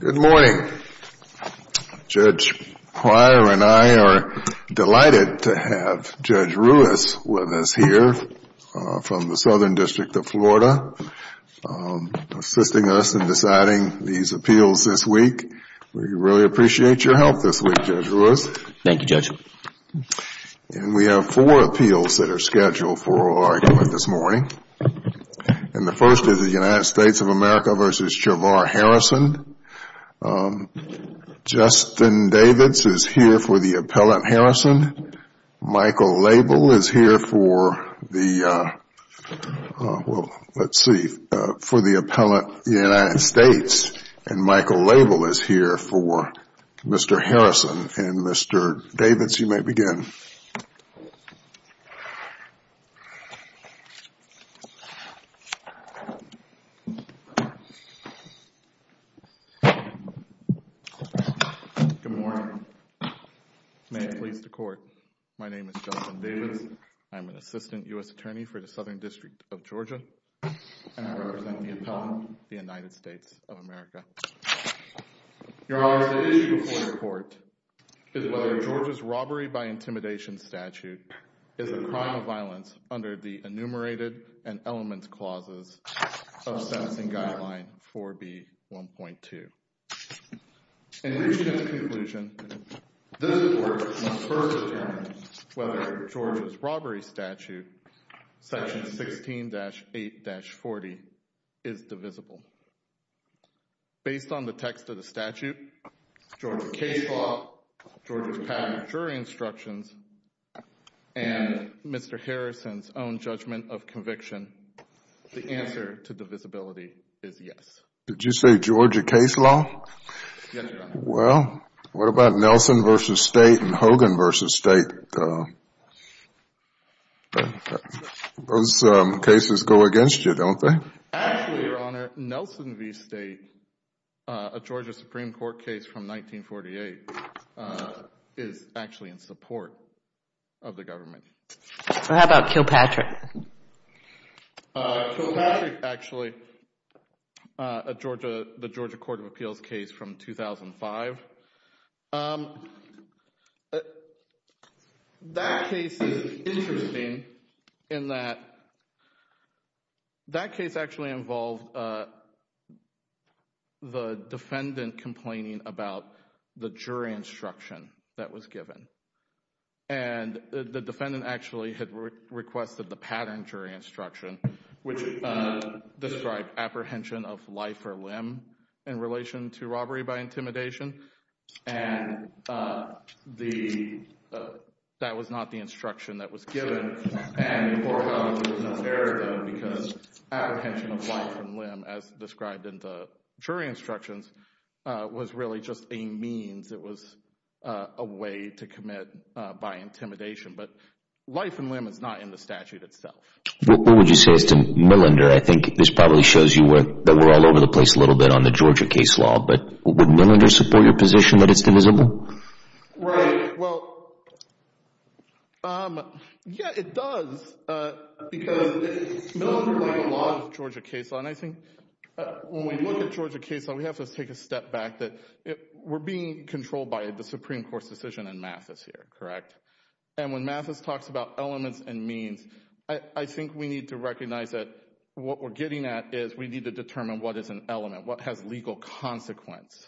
Good morning. Judge Pryor and I are delighted to have Judge Ruiz with us here from the Southern District of Florida, assisting us in deciding these appeals this week. We really appreciate your help this week, Judge Ruiz. Thank you, Judge. We have four appeals that are scheduled for argument this morning. The first is the United States of America v. Chavar Harrison. Justin Davids is here for the appellant Harrison. Michael Label is here for the appellant United States, and Michael Label is here for Mr. Harrison. Mr. Davids, you may begin. Good morning. May it please the Court, my name is Justin Davids. I am an assistant U.S. attorney for the Southern District of Georgia, and I represent the appellant, the United States of America. Your Honor, the issue for the Court is whether Georgia's robbery by intimidation statute is a crime of violence under the enumerated and elements clauses of Sentencing Guideline 4B.1.2. In reaching a conclusion, this Court must first determine whether Georgia's robbery statute section 16-8-40 is divisible. Based on the text of the statute, Georgia case law, Georgia's patent jury instructions, and Mr. Harrison's own judgment of conviction, the answer to divisibility is yes. Did you say Georgia case law? Yes, Your Honor. Well, what about Nelson v. State and Hogan v. State? Those cases go against you, don't they? Actually, Your Honor, Nelson v. State, a Georgia Supreme Court case from 1948, is actually in support of the government. How about Kilpatrick? Kilpatrick, actually, the Georgia Court of Appeals case from 2005. That case is interesting in that that case actually involved the defendant complaining about the jury instruction that was given, and the defendant actually had requested the patent jury instruction, which described apprehension of life or limb in relation to robbery by intimidation, and that was not the instruction that was given. Because apprehension of life and limb, as described in the jury instructions, was really just a means. It was a way to commit by intimidation, but life and limb is not in the statute itself. What would you say, Mr. Millender? I think this probably shows you that we're all over the place a little bit on the Georgia case law, but would Millender support your position that it's divisible? Right. Well, yeah, it does, because it's similar to a lot of Georgia case law, and I think when we look at Georgia case law, we have to take a step back. We're being controlled by the Supreme Court's decision in Mathis here, correct? And when Mathis talks about elements and means, I think we need to recognize that what we're getting at is we need to determine what is an element, what has legal consequence,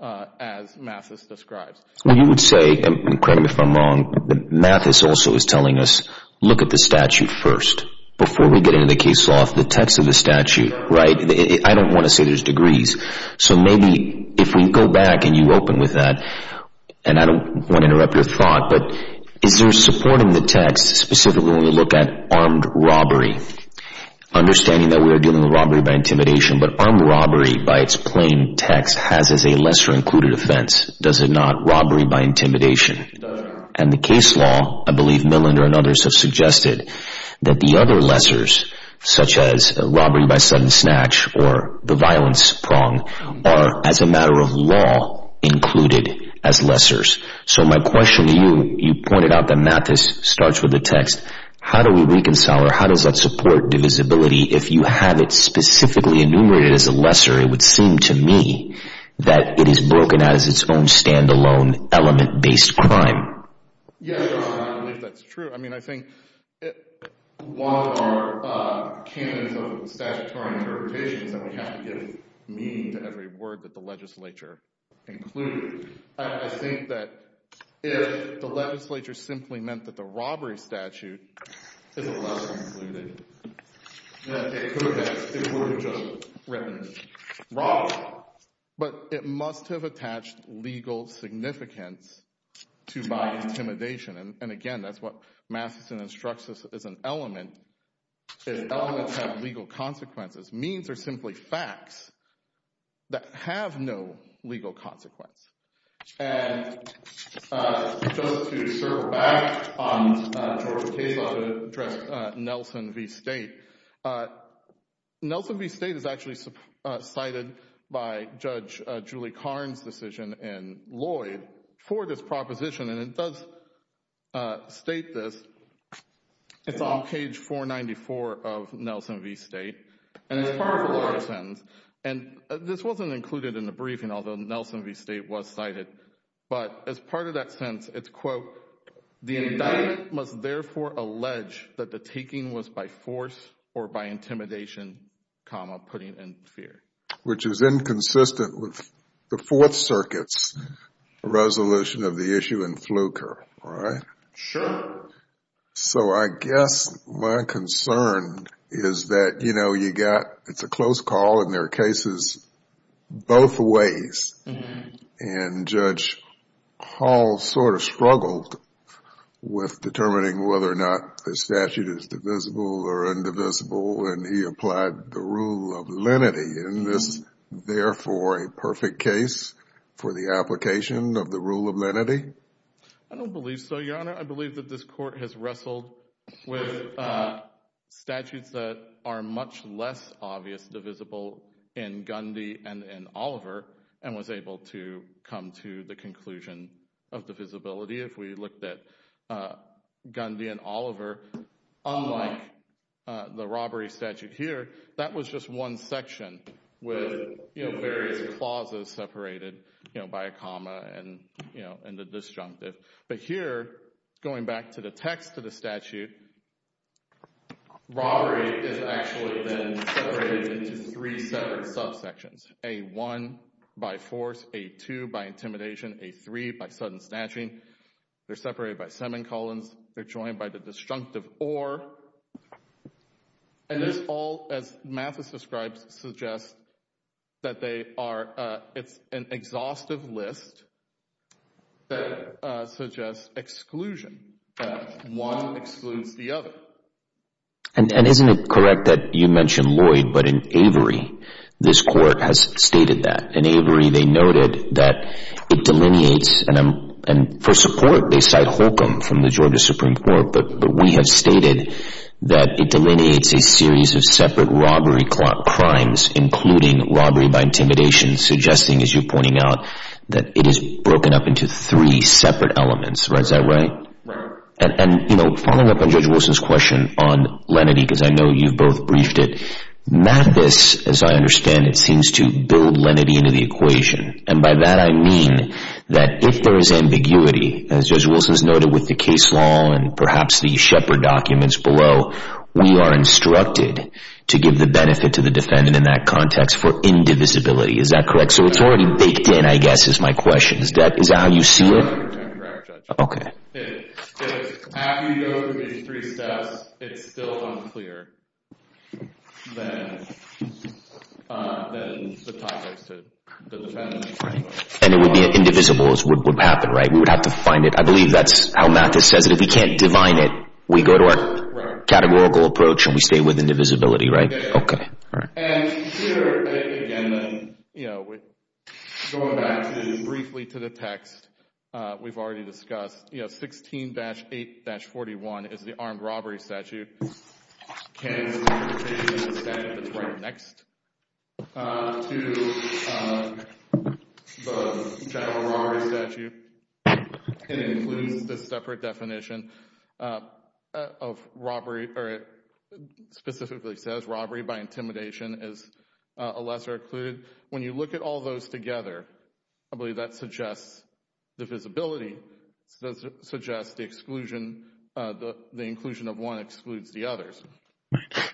as Mathis describes. Well, you would say, and correct me if I'm wrong, but Mathis also is telling us, look at the statute first before we get into the case law. The text of the statute, right? I don't want to say there's degrees, so maybe if we go back and you open with that, and I don't want to interrupt your thought, but is there support in the text specifically when we look at armed robbery, understanding that we are dealing with robbery by intimidation, but armed robbery by its plain text has as a lesser included offense, does it not? Robbery by intimidation. And the case law, I believe Millinder and others have suggested that the other lessors, such as robbery by sudden snatch or the violence prong, are as a matter of law included as lessors. So my question to you, you pointed out that Mathis starts with the text, how do we reconcile or how does that support divisibility if you have it specifically enumerated as a lesser? It would seem to me that it is broken as its own standalone element-based crime. Yes, I believe that's true. I mean, I think one of our canons of statutory interpretations that we have to give meaning to every word that the legislature included, I think that if the is a lesser included, it would have just written robbery, but it must have attached legal significance to by intimidation. And again, that's what Mathis instructs us as an element, is elements have legal consequences, means are simply facts that have no legal consequence. And just to circle back on George's case law to address Nelson v. State, Nelson v. State is actually cited by Judge Julie Karn's decision in Lloyd for this proposition, and it does state this. It's on page 494 of Nelson v. State, and it's part of a lawyer's briefing, although Nelson v. State was cited. But as part of that sentence, it's quote, the indictment must therefore allege that the taking was by force or by intimidation, comma, putting in fear. Which is inconsistent with the Fourth Circuit's resolution of the issue in Fluker, right? Sure. So I guess my concern is that, you know, you got, it's a close call in their cases, both ways. And Judge Hall sort of struggled with determining whether or not the statute is divisible or indivisible, and he applied the rule of lenity in this, therefore, a perfect case for the application of the rule of lenity? I don't believe so, Your Honor. I believe that this Court has wrestled with statutes that are much less obvious divisible in Gundy and in Oliver, and was able to come to the conclusion of divisibility. If we looked at Gundy and Oliver, unlike the robbery statute here, that was just one section with, you know, to the text of the statute. Robbery is actually then separated into three separate subsections, A1 by force, A2 by intimidation, A3 by sudden snatching. They're separated by semicolons. They're joined by the destructive or. And this all, as Mathis describes, suggests that they are, it's an exhaustive list that suggests exclusion, that one excludes the other. And isn't it correct that you mentioned Lloyd, but in Avery, this Court has stated that. In Avery, they noted that it delineates, and for support, they cite Holcomb from the Georgia Supreme Court, but we have stated that it delineates a series of separate robbery crimes, including robbery by intimidation, suggesting, as you're pointing out, that it is broken up into three separate elements. Is that right? And, you know, following up on Judge Wilson's question on lenity, because I know you've both briefed it, Mathis, as I understand it, seems to build lenity into the equation. And by that, I mean that if there is ambiguity, as Judge Wilson's noted with the case law and perhaps the Shepard documents below, we are instructed to give the benefit to the defendant in that context for indivisibility. Is that correct? So it's already baked in, I guess, is my question. Is that how you see it? That's correct, Judge. Okay. If after you go through these three steps, it's still unclear, then the topic's to the defendant. Right. And it would be indivisible, is what would happen, right? We would have to find it. I believe that's how Mathis says it. If we can't divine it, we go to our categorical approach, and we stay with indivisibility, right? Okay, all right. And here, again, going back briefly to the text we've already discussed, 16-8-41 is the armed robbery statute. It's the statute that's right next to the general robbery statute. It includes this separate definition of robbery, or it specifically says robbery by intimidation is a lesser occluded. When you look at all those together, I believe that suggests divisibility, suggests the exclusion, the inclusion of one excludes the others.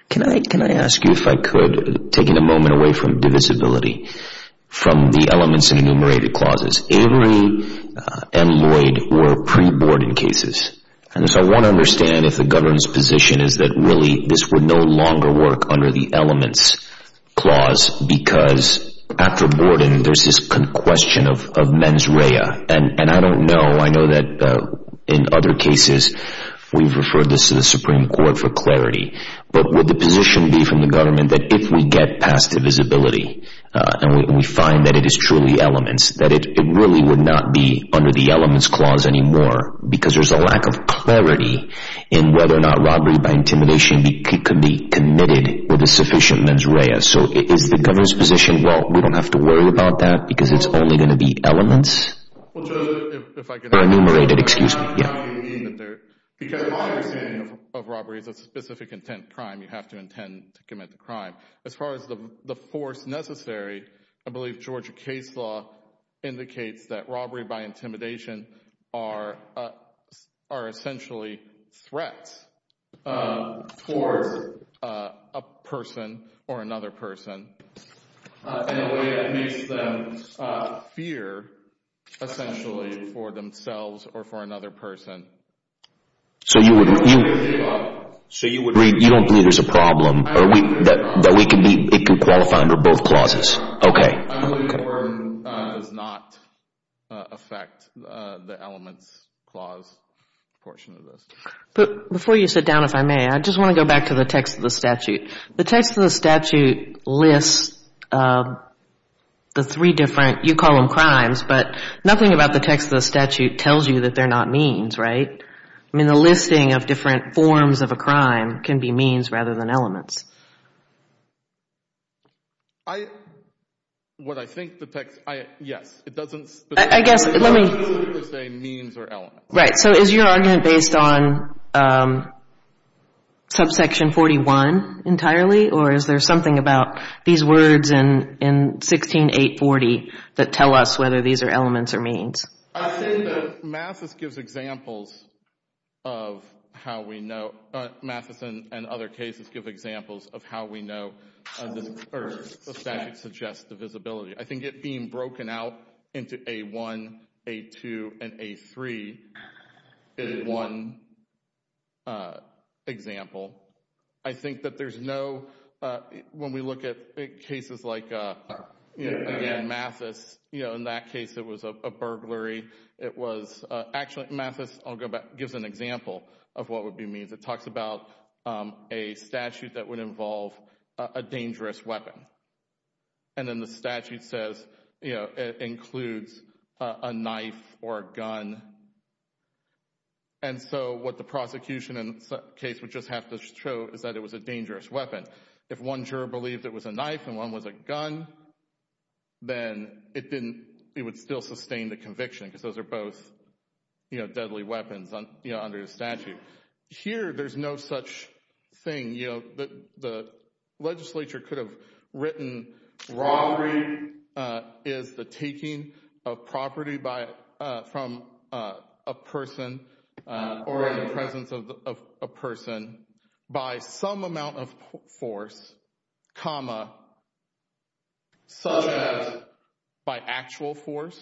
Can I ask you, if I could, taking a moment away from divisibility, from the elements and enumerated clauses, Avery and Lloyd were pre-Borden cases. And so I want to understand if the government's position is that really this would no longer work under the elements clause, because after Borden, there's this question of mens rea. And I don't know, I know that in other cases, we've referred this to the Supreme Court for clarity, but would position be from the government that if we get past divisibility, and we find that it is truly elements, that it really would not be under the elements clause anymore, because there's a lack of clarity in whether or not robbery by intimidation could be committed with a sufficient mens rea. So is the government's position, well, we don't have to worry about that because it's only going to be elements? Or enumerated, excuse me. Yeah. Because my understanding of robbery is a specific intent crime, you have to intend to commit the crime. As far as the force necessary, I believe Georgia case law indicates that robbery by intimidation are essentially threats towards a person or another person in a way that makes them fear essentially for themselves or for another person. So you don't believe there's a problem that it could qualify under both clauses? Okay. I believe Borden does not affect the elements clause portion of this. But before you sit down, if I may, I just want to go back to the text of the statute. The text of the statute lists the three different, you call them crimes, but nothing about the text of the statute tells you that they're not means, right? I mean, the listing of different forms of a crime can be means rather than elements. I, what I think the text, yes, it doesn't. I guess, let me. It doesn't say means or elements. Right. So is your argument based on subsection 41 entirely, or is there something about these words in 16-840 that tell us whether these are elements or means? I think that Mathis gives examples of how we know, Mathis and other cases give examples of how we know, or the statute suggests the visibility. I think it being broken out into A1, A2, and A3 is one example. I think that there's no, when we look at cases like, again, Mathis, you know, in that case, it was a burglary. It was, actually, Mathis, I'll go back, gives an example of what would be means. It talks about a statute that would involve a dangerous weapon. And then the statute says, you know, it includes a knife or a gun. And so what the prosecution in the case would just have to show is that it was a dangerous weapon. If one juror believed it was a knife and one was a gun, then it didn't, it would still sustain the conviction because those are both, you know, deadly weapons under the statute. Here, there's no such thing. You know, the legislature could have written robbery is the taking of property from a person or in the presence of a person by some amount of force, comma, such as by actual force,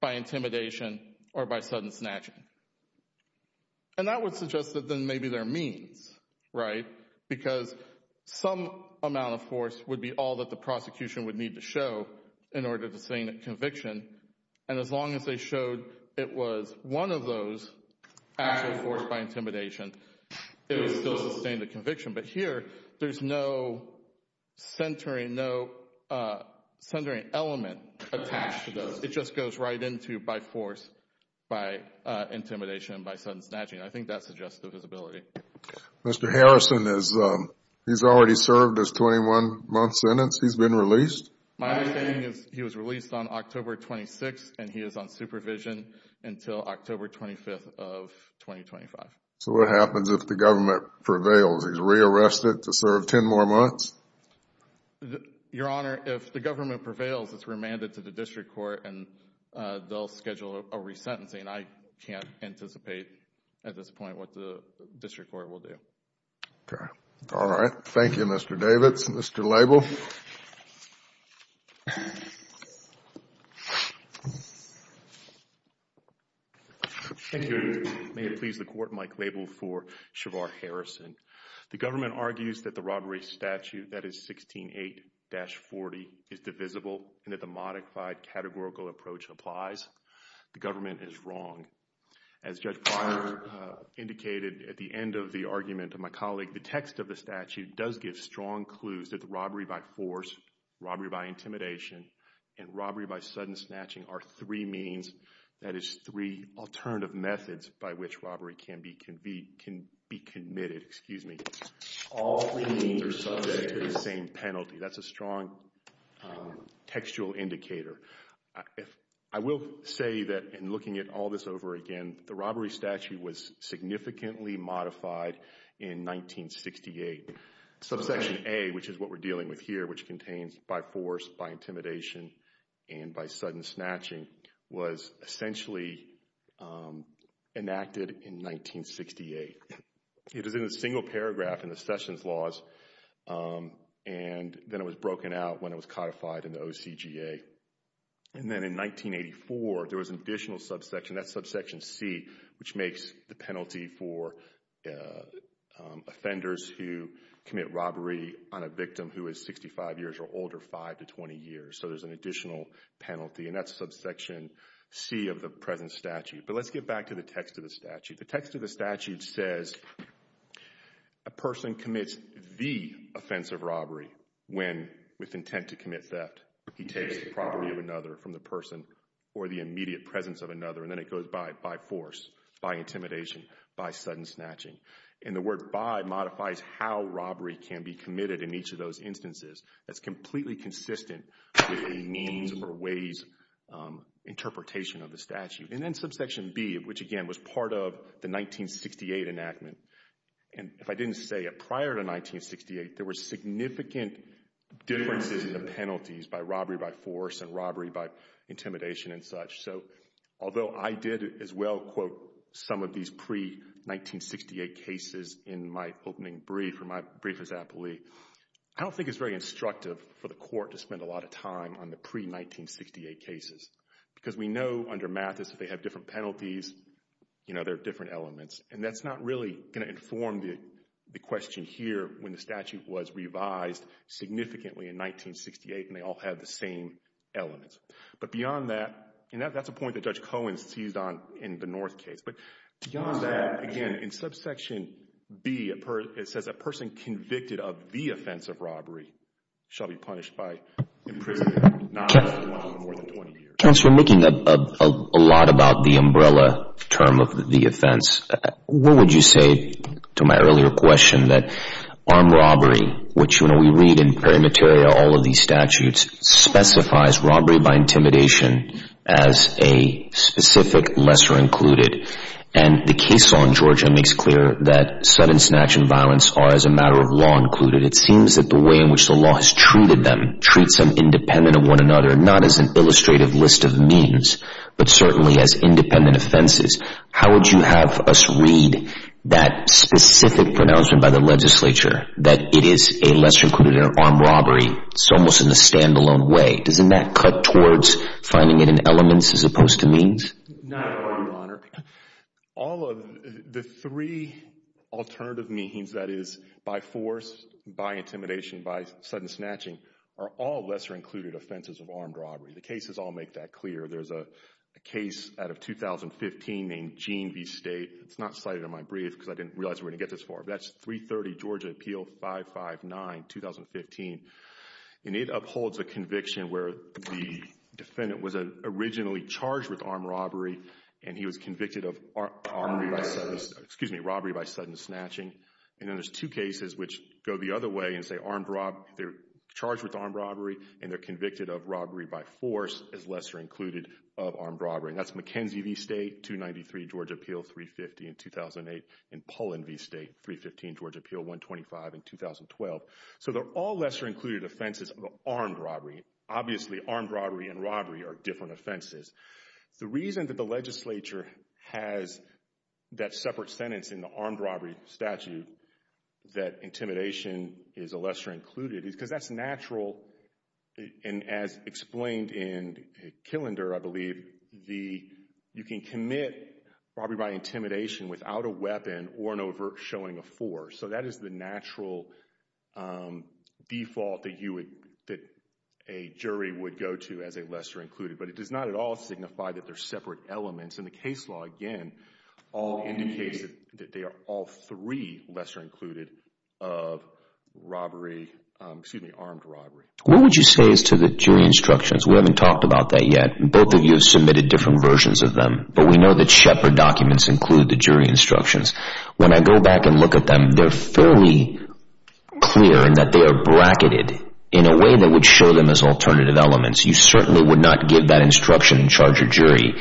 by intimidation, or by sudden snatching. And that would suggest that then maybe there are means, right? Because some amount of force would be all that the prosecution would need to show in order to sustain a conviction. And as long as they showed it was one of those, actual force by intimidation, it would still sustain the conviction. But here, there's no centering, no centering element attached to those. It just goes right into by force, by intimidation, by sudden snatching. I think that suggests the visibility. Mr. Harrison, he's already served his 21-month sentence. He's been released? My understanding is he was released on October 26th and he is on supervision until October 25th of 2025. So what happens if the government prevails? He's re-arrested to serve 10 more months? Your Honor, if the government prevails, it's remanded to the district court and they'll schedule a re-sentencing. I can't anticipate at this point what the district court will do. Okay. All right. Thank you, Mr. Davids. Mr. Label? Thank you. May it please the Court, Mike Label for Shavar Harrison. The government argues that robbery statute that is 16-8-40 is divisible and that the modified categorical approach applies. The government is wrong. As Judge Pryor indicated at the end of the argument of my colleague, the text of the statute does give strong clues that the robbery by force, robbery by intimidation, and robbery by sudden snatching are three means, that is three alternative methods by which robbery can be committed. All three means are subject to the same penalty. That's a strong textual indicator. I will say that in looking at all this over again, the robbery statute was significantly modified in 1968. Subsection A, which is what we're dealing with here, which contains by force, by intimidation, and by sudden snatching was essentially enacted in 1968. It is in a single paragraph in the Sessions laws, and then it was broken out when it was codified in the OCGA. And then in 1984, there was an additional subsection, that's subsection C, which makes the penalty for offenders who commit robbery on a victim who is 65 years or older, 5 to 20 years. So there's an But let's get back to the text of the statute. The text of the statute says a person commits the offense of robbery when, with intent to commit theft, he takes the property of another from the person or the immediate presence of another, and then it goes by force, by intimidation, by sudden snatching. And the word by modifies how robbery can be committed in each of those instances. That's completely consistent with the means or ways interpretation of the statute. Subsection B, which again was part of the 1968 enactment, and if I didn't say it, prior to 1968, there were significant differences in the penalties by robbery by force and robbery by intimidation and such. So although I did as well quote some of these pre-1968 cases in my opening brief or my brief as appellee, I don't think it's very instructive for the court to different penalties, you know, there are different elements, and that's not really going to inform the the question here when the statute was revised significantly in 1968 and they all have the same elements. But beyond that, and that's a point that Judge Cohen seized on in the North case, but beyond that, again, in subsection B, it says a person convicted of the offense of robbery shall be punished by imprisonment not more than 20 years. Counselor, making a lot about the umbrella term of the offense, what would you say to my earlier question that armed robbery, which you know we read in perimeteria all of these statutes, specifies robbery by intimidation as a specific lesser included, and the case law in Georgia makes clear that sudden snatch and violence are as a matter of law included. It seems that the way in which the law has treated them treats them independent of one another, not as an illustrative list of means, but certainly as independent offenses. How would you have us read that specific pronouncement by the legislature that it is a lesser included armed robbery? It's almost in a standalone way. Doesn't that cut towards finding it in elements as opposed to means? No, Your Honor. All of the three alternative means, that is by force, by intimidation, by sudden snatching, are all lesser included offenses of armed robbery. The cases all make that clear. There's a case out of 2015 named Gene v. State. It's not cited in my brief because I didn't realize we're going to get this far, but that's 330 Georgia Appeal 559, 2015, and it upholds a and he was convicted of robbery by sudden snatching. And then there's two cases which go the other way and say armed robbery. They're charged with armed robbery and they're convicted of robbery by force as lesser included of armed robbery. That's McKenzie v. State, 293 Georgia Appeal 350 in 2008, and Pullen v. State, 315 Georgia Appeal 125 in 2012. So they're all lesser included offenses of armed robbery. Obviously armed robbery and robbery are different offenses. The reason that the legislature has that separate sentence in the armed robbery statute that intimidation is a lesser included is because that's natural and as explained in Killender, I believe, you can commit robbery by intimidation without a weapon or an overt showing of force. So that is the natural default that you would, that a jury would go to as a lesser included, but it does not at all signify that they're separate elements. And the case law again all indicates that they are all three lesser included of robbery, excuse me, armed robbery. What would you say is to the jury instructions? We haven't talked about that yet. Both of you have submitted different versions of them, but we know that Shepard documents include the jury instructions. When I go back and look at them, they're fairly clear in that they are bracketed in a way that would show them as alternative elements. You certainly would not give that instruction and charge your jury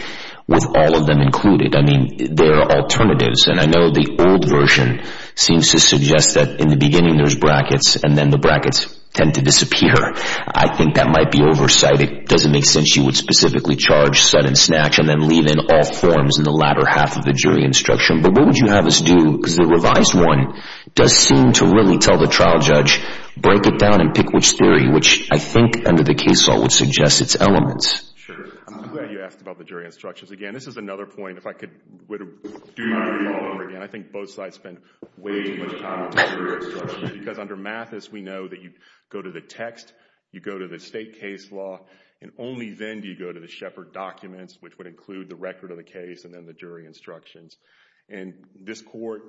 with all of them included. I mean, there are alternatives and I know the old version seems to suggest that in the beginning there's brackets and then the brackets tend to disappear. I think that might be oversight. It doesn't make sense. You would specifically charge sudden snatch and then leave in all forms in the latter half of the jury instruction. But what would you have us do? Because the revised one does seem to really tell the trial break it down and pick which theory, which I think under the case law would suggest its elements. Sure. I'm glad you asked about the jury instructions. Again, this is another point, if I could do it all over again, I think both sides spend way too much time on the jury instructions. Because under Mathis, we know that you go to the text, you go to the state case law, and only then do you go to the Shepard documents, which would include the record of the case and then the jury instructions. And this court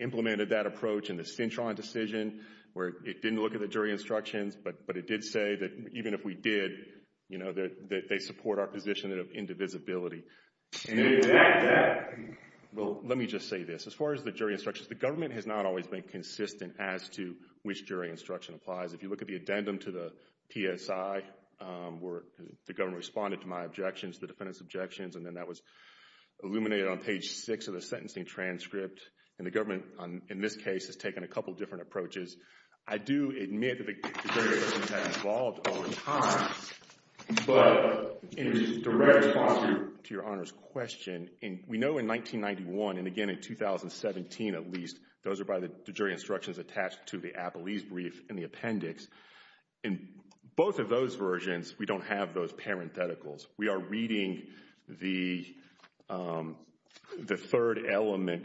implemented that approach in the Cintron decision where it didn't look at the jury instructions, but it did say that even if we did, you know, that they support our position of indivisibility. Well, let me just say this. As far as the jury instructions, the government has not always been consistent as to which jury instruction applies. If you look at the addendum to the PSI where the government responded to my objections, the defendant's objections, and then that was illuminated on page six of the sentencing transcript. And the government, in this case, has taken a couple different approaches. I do admit that the jury instructions have evolved over time, but in direct response to your Honor's question, we know in 1991, and again in 2017 at least, those are by the jury instructions attached to the Appellee's brief and the appendix. In both of those versions, we don't have those parentheticals. We are reading the third element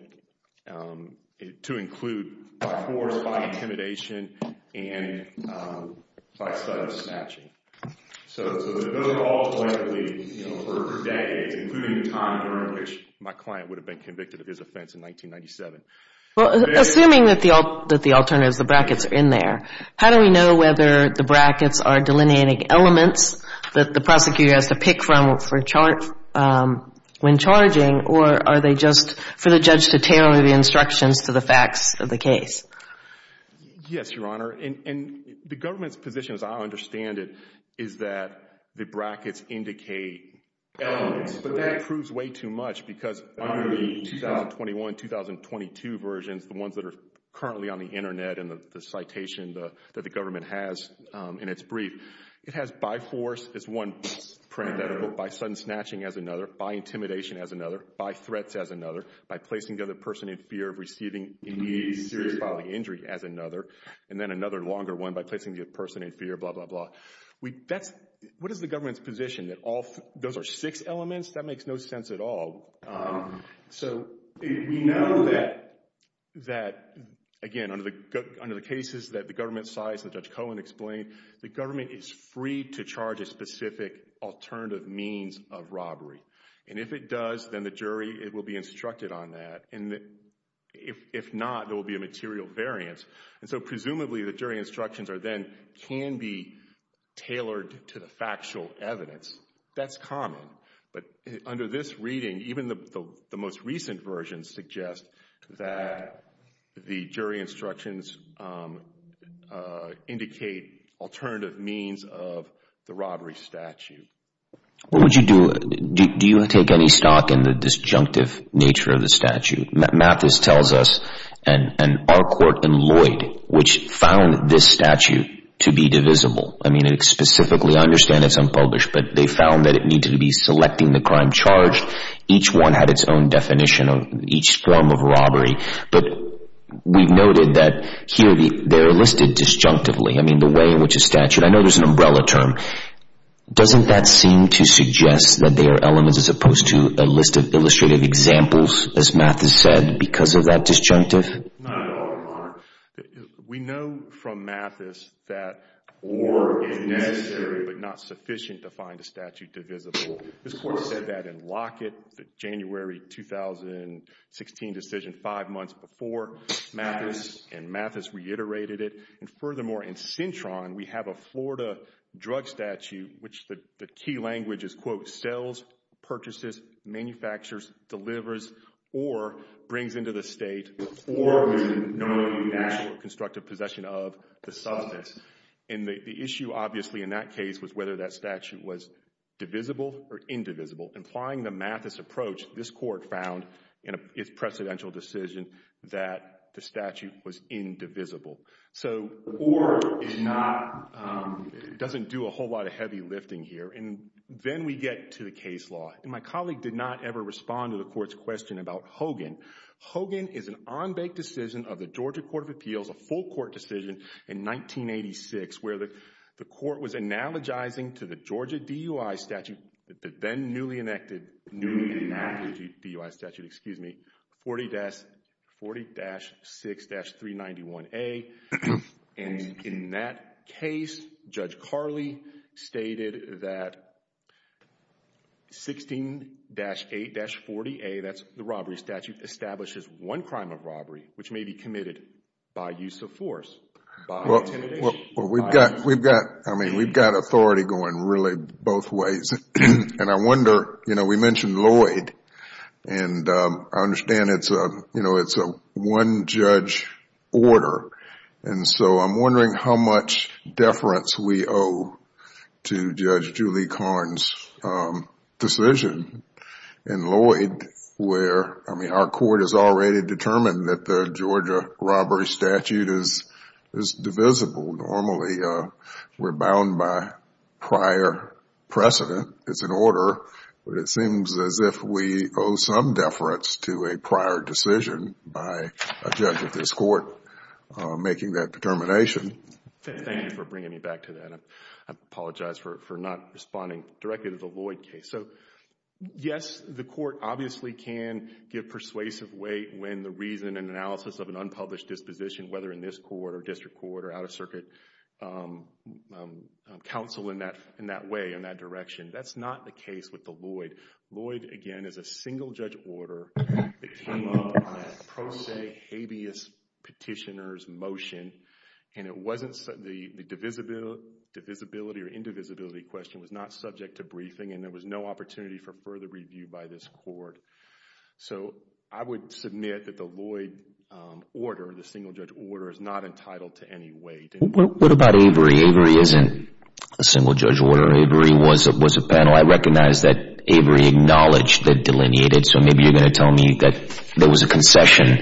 to include by force, by intimidation, and by slight of snatching. So those are all collectively, you know, for decades, including the time during which my client would have been convicted of his offense in 1997. Well, assuming that the alternatives, the brackets are in there, how do we know whether the brackets are delineating elements that the prosecutor has to tailor the instructions to the facts of the case? Yes, Your Honor. And the government's position, as I understand it, is that the brackets indicate elements, but that proves way too much because under the 2021-2022 versions, the ones that are currently on the internet and the citation that the government has in its brief, it has by force as one parenthetical, by sudden snatching as another, by placing the person in fear of receiving immediate and serious bodily injury as another, and then another longer one by placing the person in fear, blah, blah, blah. What is the government's position that those are six elements? That makes no sense at all. So we know that, again, under the cases that the government cites that Judge Cohen explained, the government is free to charge a specific alternative means of robbery. And if it does, then the jury will be instructed on that. And if not, there will be a material variance. And so presumably the jury instructions then can be tailored to the factual evidence. That's common. But under this reading, even the most recent versions suggest that the jury stock in the disjunctive nature of the statute. Mathis tells us, and our court, and Lloyd, which found this statute to be divisible. I mean, it specifically, I understand it's unpublished, but they found that it needed to be selecting the crime charged. Each one had its own definition of each form of robbery. But we've noted that here they're listed disjunctively. I mean, the way in which a statute, I know there's an umbrella term. Doesn't that seem to suggest that they are elements as opposed to a list of illustrative examples, as Mathis said, because of that disjunctive? Not at all, Your Honor. We know from Mathis that or is necessary, but not sufficient to find a statute divisible. This court said that in Lockett, the January 2016 decision, five months before Mathis. And Mathis reiterated it. And furthermore, in Cintron, we have a Florida drug statute, which the key language is, quote, sells, purchases, manufactures, delivers, or brings into the state, or is known as a national constructive possession of the substance. And the issue, obviously, in that case was whether that statute was divisible or indivisible. Implying the Mathis approach, this court found in its precedential decision that the statute was indivisible. So or is not, doesn't do a whole lot of heavy lifting here. And then we get to the case law. And my colleague did not ever respond to the court's question about Hogan. Hogan is an on-bank decision of the Georgia Court of Appeals, a full court decision in 1986, where the court was analogizing to the Georgia DUI statute, the then newly enacted DUI statute, 40-6-391A. And in that case, Judge Carley stated that 16-8-40A, that's the robbery statute, establishes one crime of robbery, which may be committed by use of force, by intimidation. Well, we've got, I mean, we've got authority going really both ways. And I wonder, you know, we mentioned Lloyd. And I understand it's a, you know, it's a one-judge order. And so I'm wondering how much deference we owe to Judge Julie Karn's decision in Lloyd, where, I mean, our court has already determined that the Georgia robbery statute is divisible. Normally, we're bound by prior precedent. It's an order, but it seems as if we owe some deference to a prior decision by a judge of this court making that determination. Thank you for bringing me back to that. I apologize for not responding directly to the Lloyd case. So, yes, the court obviously can give persuasive weight when the reason and analysis of the counsel in that way, in that direction. That's not the case with the Lloyd. Lloyd, again, is a single-judge order. It came up on a pro se habeas petitioner's motion. And it wasn't, the divisibility or indivisibility question was not subject to briefing. And there was no opportunity for further review by this court. So I would submit that the Lloyd order, the single-judge order, is not entitled to any weight. What about Avery? Avery isn't a single-judge order. Avery was a panel. I recognize that Avery acknowledged the delineated. So maybe you're going to tell me that there was a concession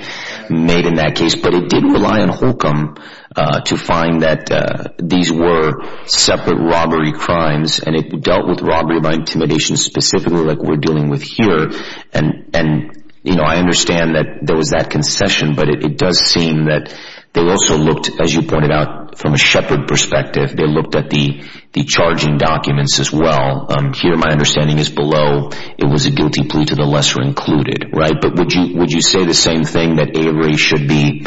made in that case. But it did rely on Holcomb to find that these were separate robbery crimes, and it dealt with robbery by intimidation specifically like we're dealing with here. And I understand that there was that concession, but it does seem that they also looked, as you pointed out, from a shepherd perspective. They looked at the charging documents as well. Here, my understanding is below, it was a guilty plea to the lesser included, right? But would you say the same thing that Avery should be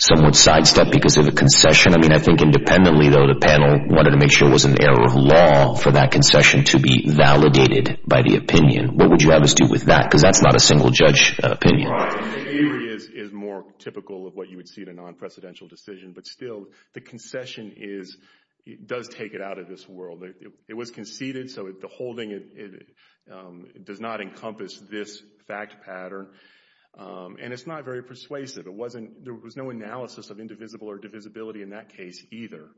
somewhat sidestepped because of a concession? I mean, I think independently, though, the panel wanted to make sure it was an error of law for that because that's not a single-judge opinion. Avery is more typical of what you would see in a non-presidential decision. But still, the concession does take it out of this world. It was conceded, so the holding does not encompass this fact pattern. And it's not very persuasive. There was no analysis of indivisible or divisibility in that case either.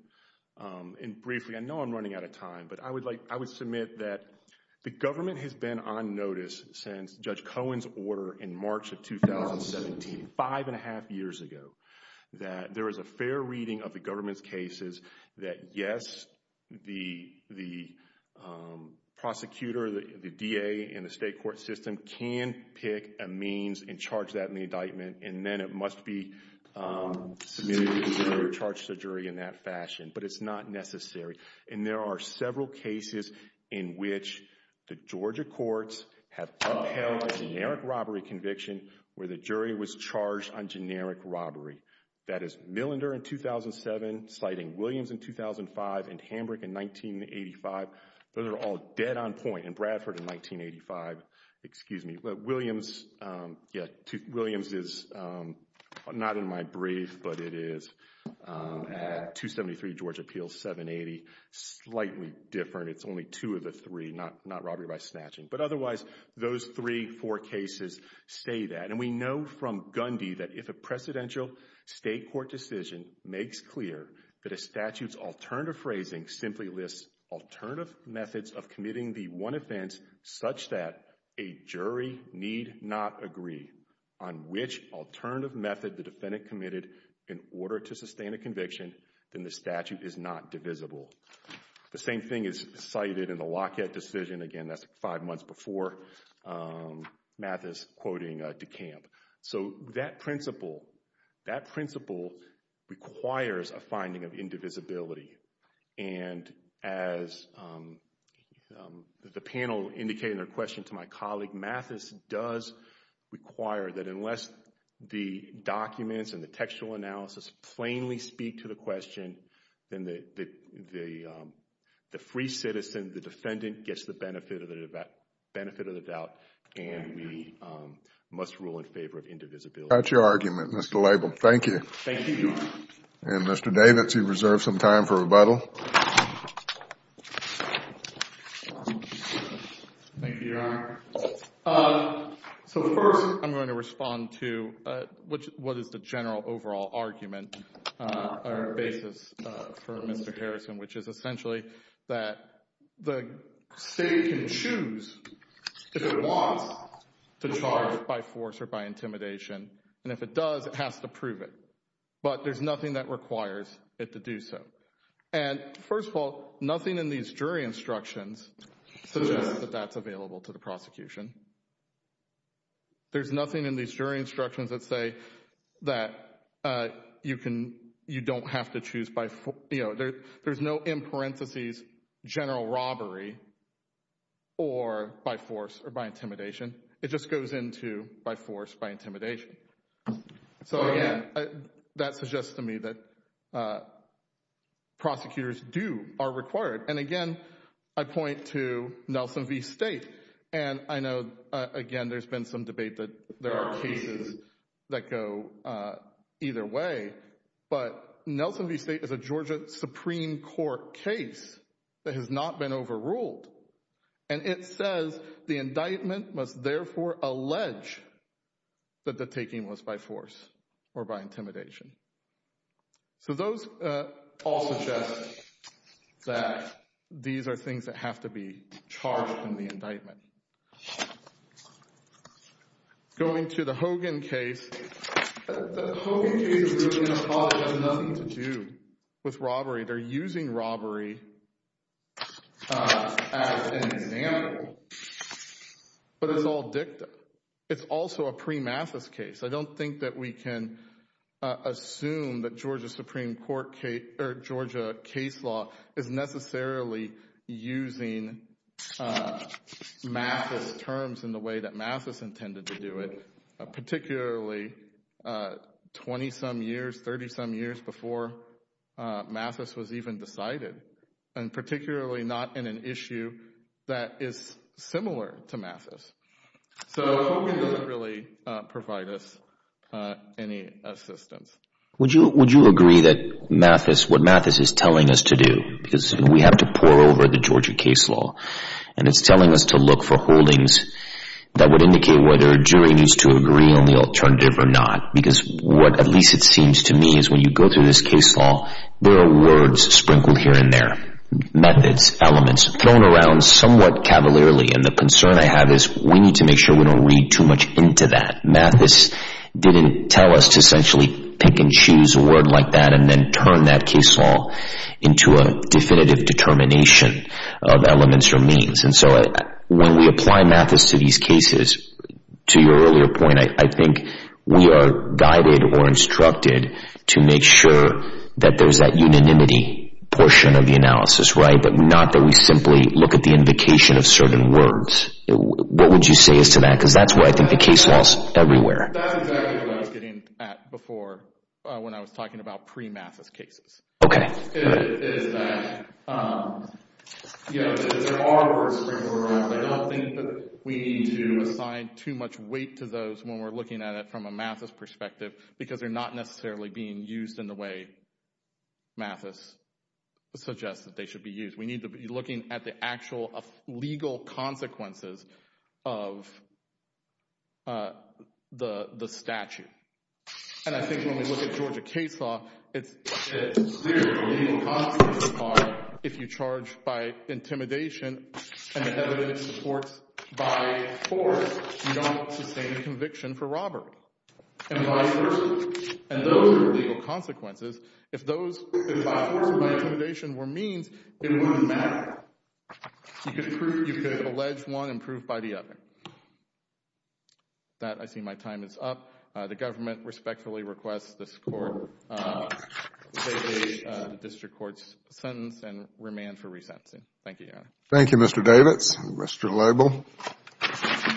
And briefly, I know I'm running out of time, but I would submit that the government has been on Judge Cohen's order in March of 2017, five and a half years ago, that there is a fair reading of the government's cases that, yes, the prosecutor, the DA, and the state court system can pick a means and charge that in the indictment, and then it must be submitted to the jury or charged to the jury in that fashion. But it's not necessary. And there are several cases in which the Georgia courts have upheld a generic robbery conviction where the jury was charged on generic robbery. That is Millinder in 2007, citing Williams in 2005, and Hambrick in 1985. Those are all dead on point. And Bradford in 1985, excuse me. Williams is not in my brief, but it is at 273 Georgia Appeals, 780. Slightly different. It's only two of the three, not robbery by snatching. But otherwise, those three, four cases say that. And we know from Gundy that if a presidential state court decision makes clear that a statute's alternative phrasing simply lists alternative methods of committing the one offense such that a jury need not agree on which alternative method the defendant committed in order to sustain a conviction, then the statute is not divisible. The same thing is cited in the Lockett decision. Again, that's five months before Mathis quoting DeCamp. So that principle, that principle requires a finding of indivisibility. And as the panel indicated in their question to my colleague, Mathis does require that unless the documents and the textual analysis plainly speak to the question, then the free citizen, the defendant, gets the benefit of the doubt. And we must rule in favor of indivisibility. I got your argument, Mr. Label. Thank you. Thank you, Your Honor. And Mr. Davidson, you reserve some time for rebuttal. Thank you, Your Honor. So first, I'm going to respond to what is the general overall argument or basis for Mr. Harrison, which is essentially that the state can choose if it wants to charge by force or by intimidation. And if it does, it has to prove it. But there's nothing that requires it to do so. And first of all, nothing in these jury instructions suggests that that's available to the prosecution. There's nothing in these jury instructions that say that you can, you don't have to choose by, you know, there's no in parentheses general robbery or by force or by intimidation. It just goes into by force, by intimidation. So again, that suggests to me that prosecutors do, are required. And again, I point to Nelson v. State. And I know, again, there's been some debate that there are cases that go either way, but Nelson v. State is a Georgia Supreme Court case that has not been overruled. And it says the indictment must therefore allege that the taking was by force or by intimidation. So those all suggest that these are things that have to be charged in the indictment. Going to the Hogan case, the Hogan case really has nothing to do with robbery. They're using robbery as an example. But it's all dicta. It's also a pre-Mathis case. I don't think that we can assume that Georgia Supreme Court case, or Georgia case law is necessarily using Mathis terms in the way that Mathis intended to do it, particularly 20-some years, 30-some years before Mathis was even decided, and particularly not in an issue that is similar to Mathis. So Hogan doesn't really provide us any assistance. Would you agree that Mathis, what Mathis is telling us to do, because we have to pore over the Georgia case law, and it's telling us to look for holdings that would indicate whether a jury needs to agree on the alternative or not? Because what at least it seems to me is when you go through this case law, there are words sprinkled here and there, methods, elements, thrown around somewhat cavalierly. And the concern I have is we need to make sure we don't read too much into that. Mathis didn't tell us to essentially pick and choose a word like that and then turn that case law into a definitive determination of elements or means. And so when we apply Mathis to these cases, to your earlier point, I think we are guided or instructed to make sure that there's that unanimity portion of the analysis, right? But not that we simply look at the invocation of certain words. What would you say as to that? Because that's where I think the case law is everywhere. That's exactly where I was getting at before when I was talking about pre-Mathis cases. Okay. It is that, you know, there are words sprinkled around, but I don't think that we need to assign too much weight to those when we're looking at it from a Mathis perspective because they're not necessarily being used in the way Mathis suggests that they should be used. We need to be looking at the actual legal consequences of the statute. And I think when we look at Georgia case law, it's clear the legal consequences are if you charge by intimidation and the evidence supports by force, you don't sustain a conviction for robbery. And by force, and those are legal consequences. If those by force or by intimidation were means, it wouldn't matter. You could prove, you could allege one and prove by the other. That, I see my time is up. The government respectfully requests this court take the district court's sentence and remand for resentencing. Thank you, Your Honor. Thank you, Mr. Davids and Mr. Lobel.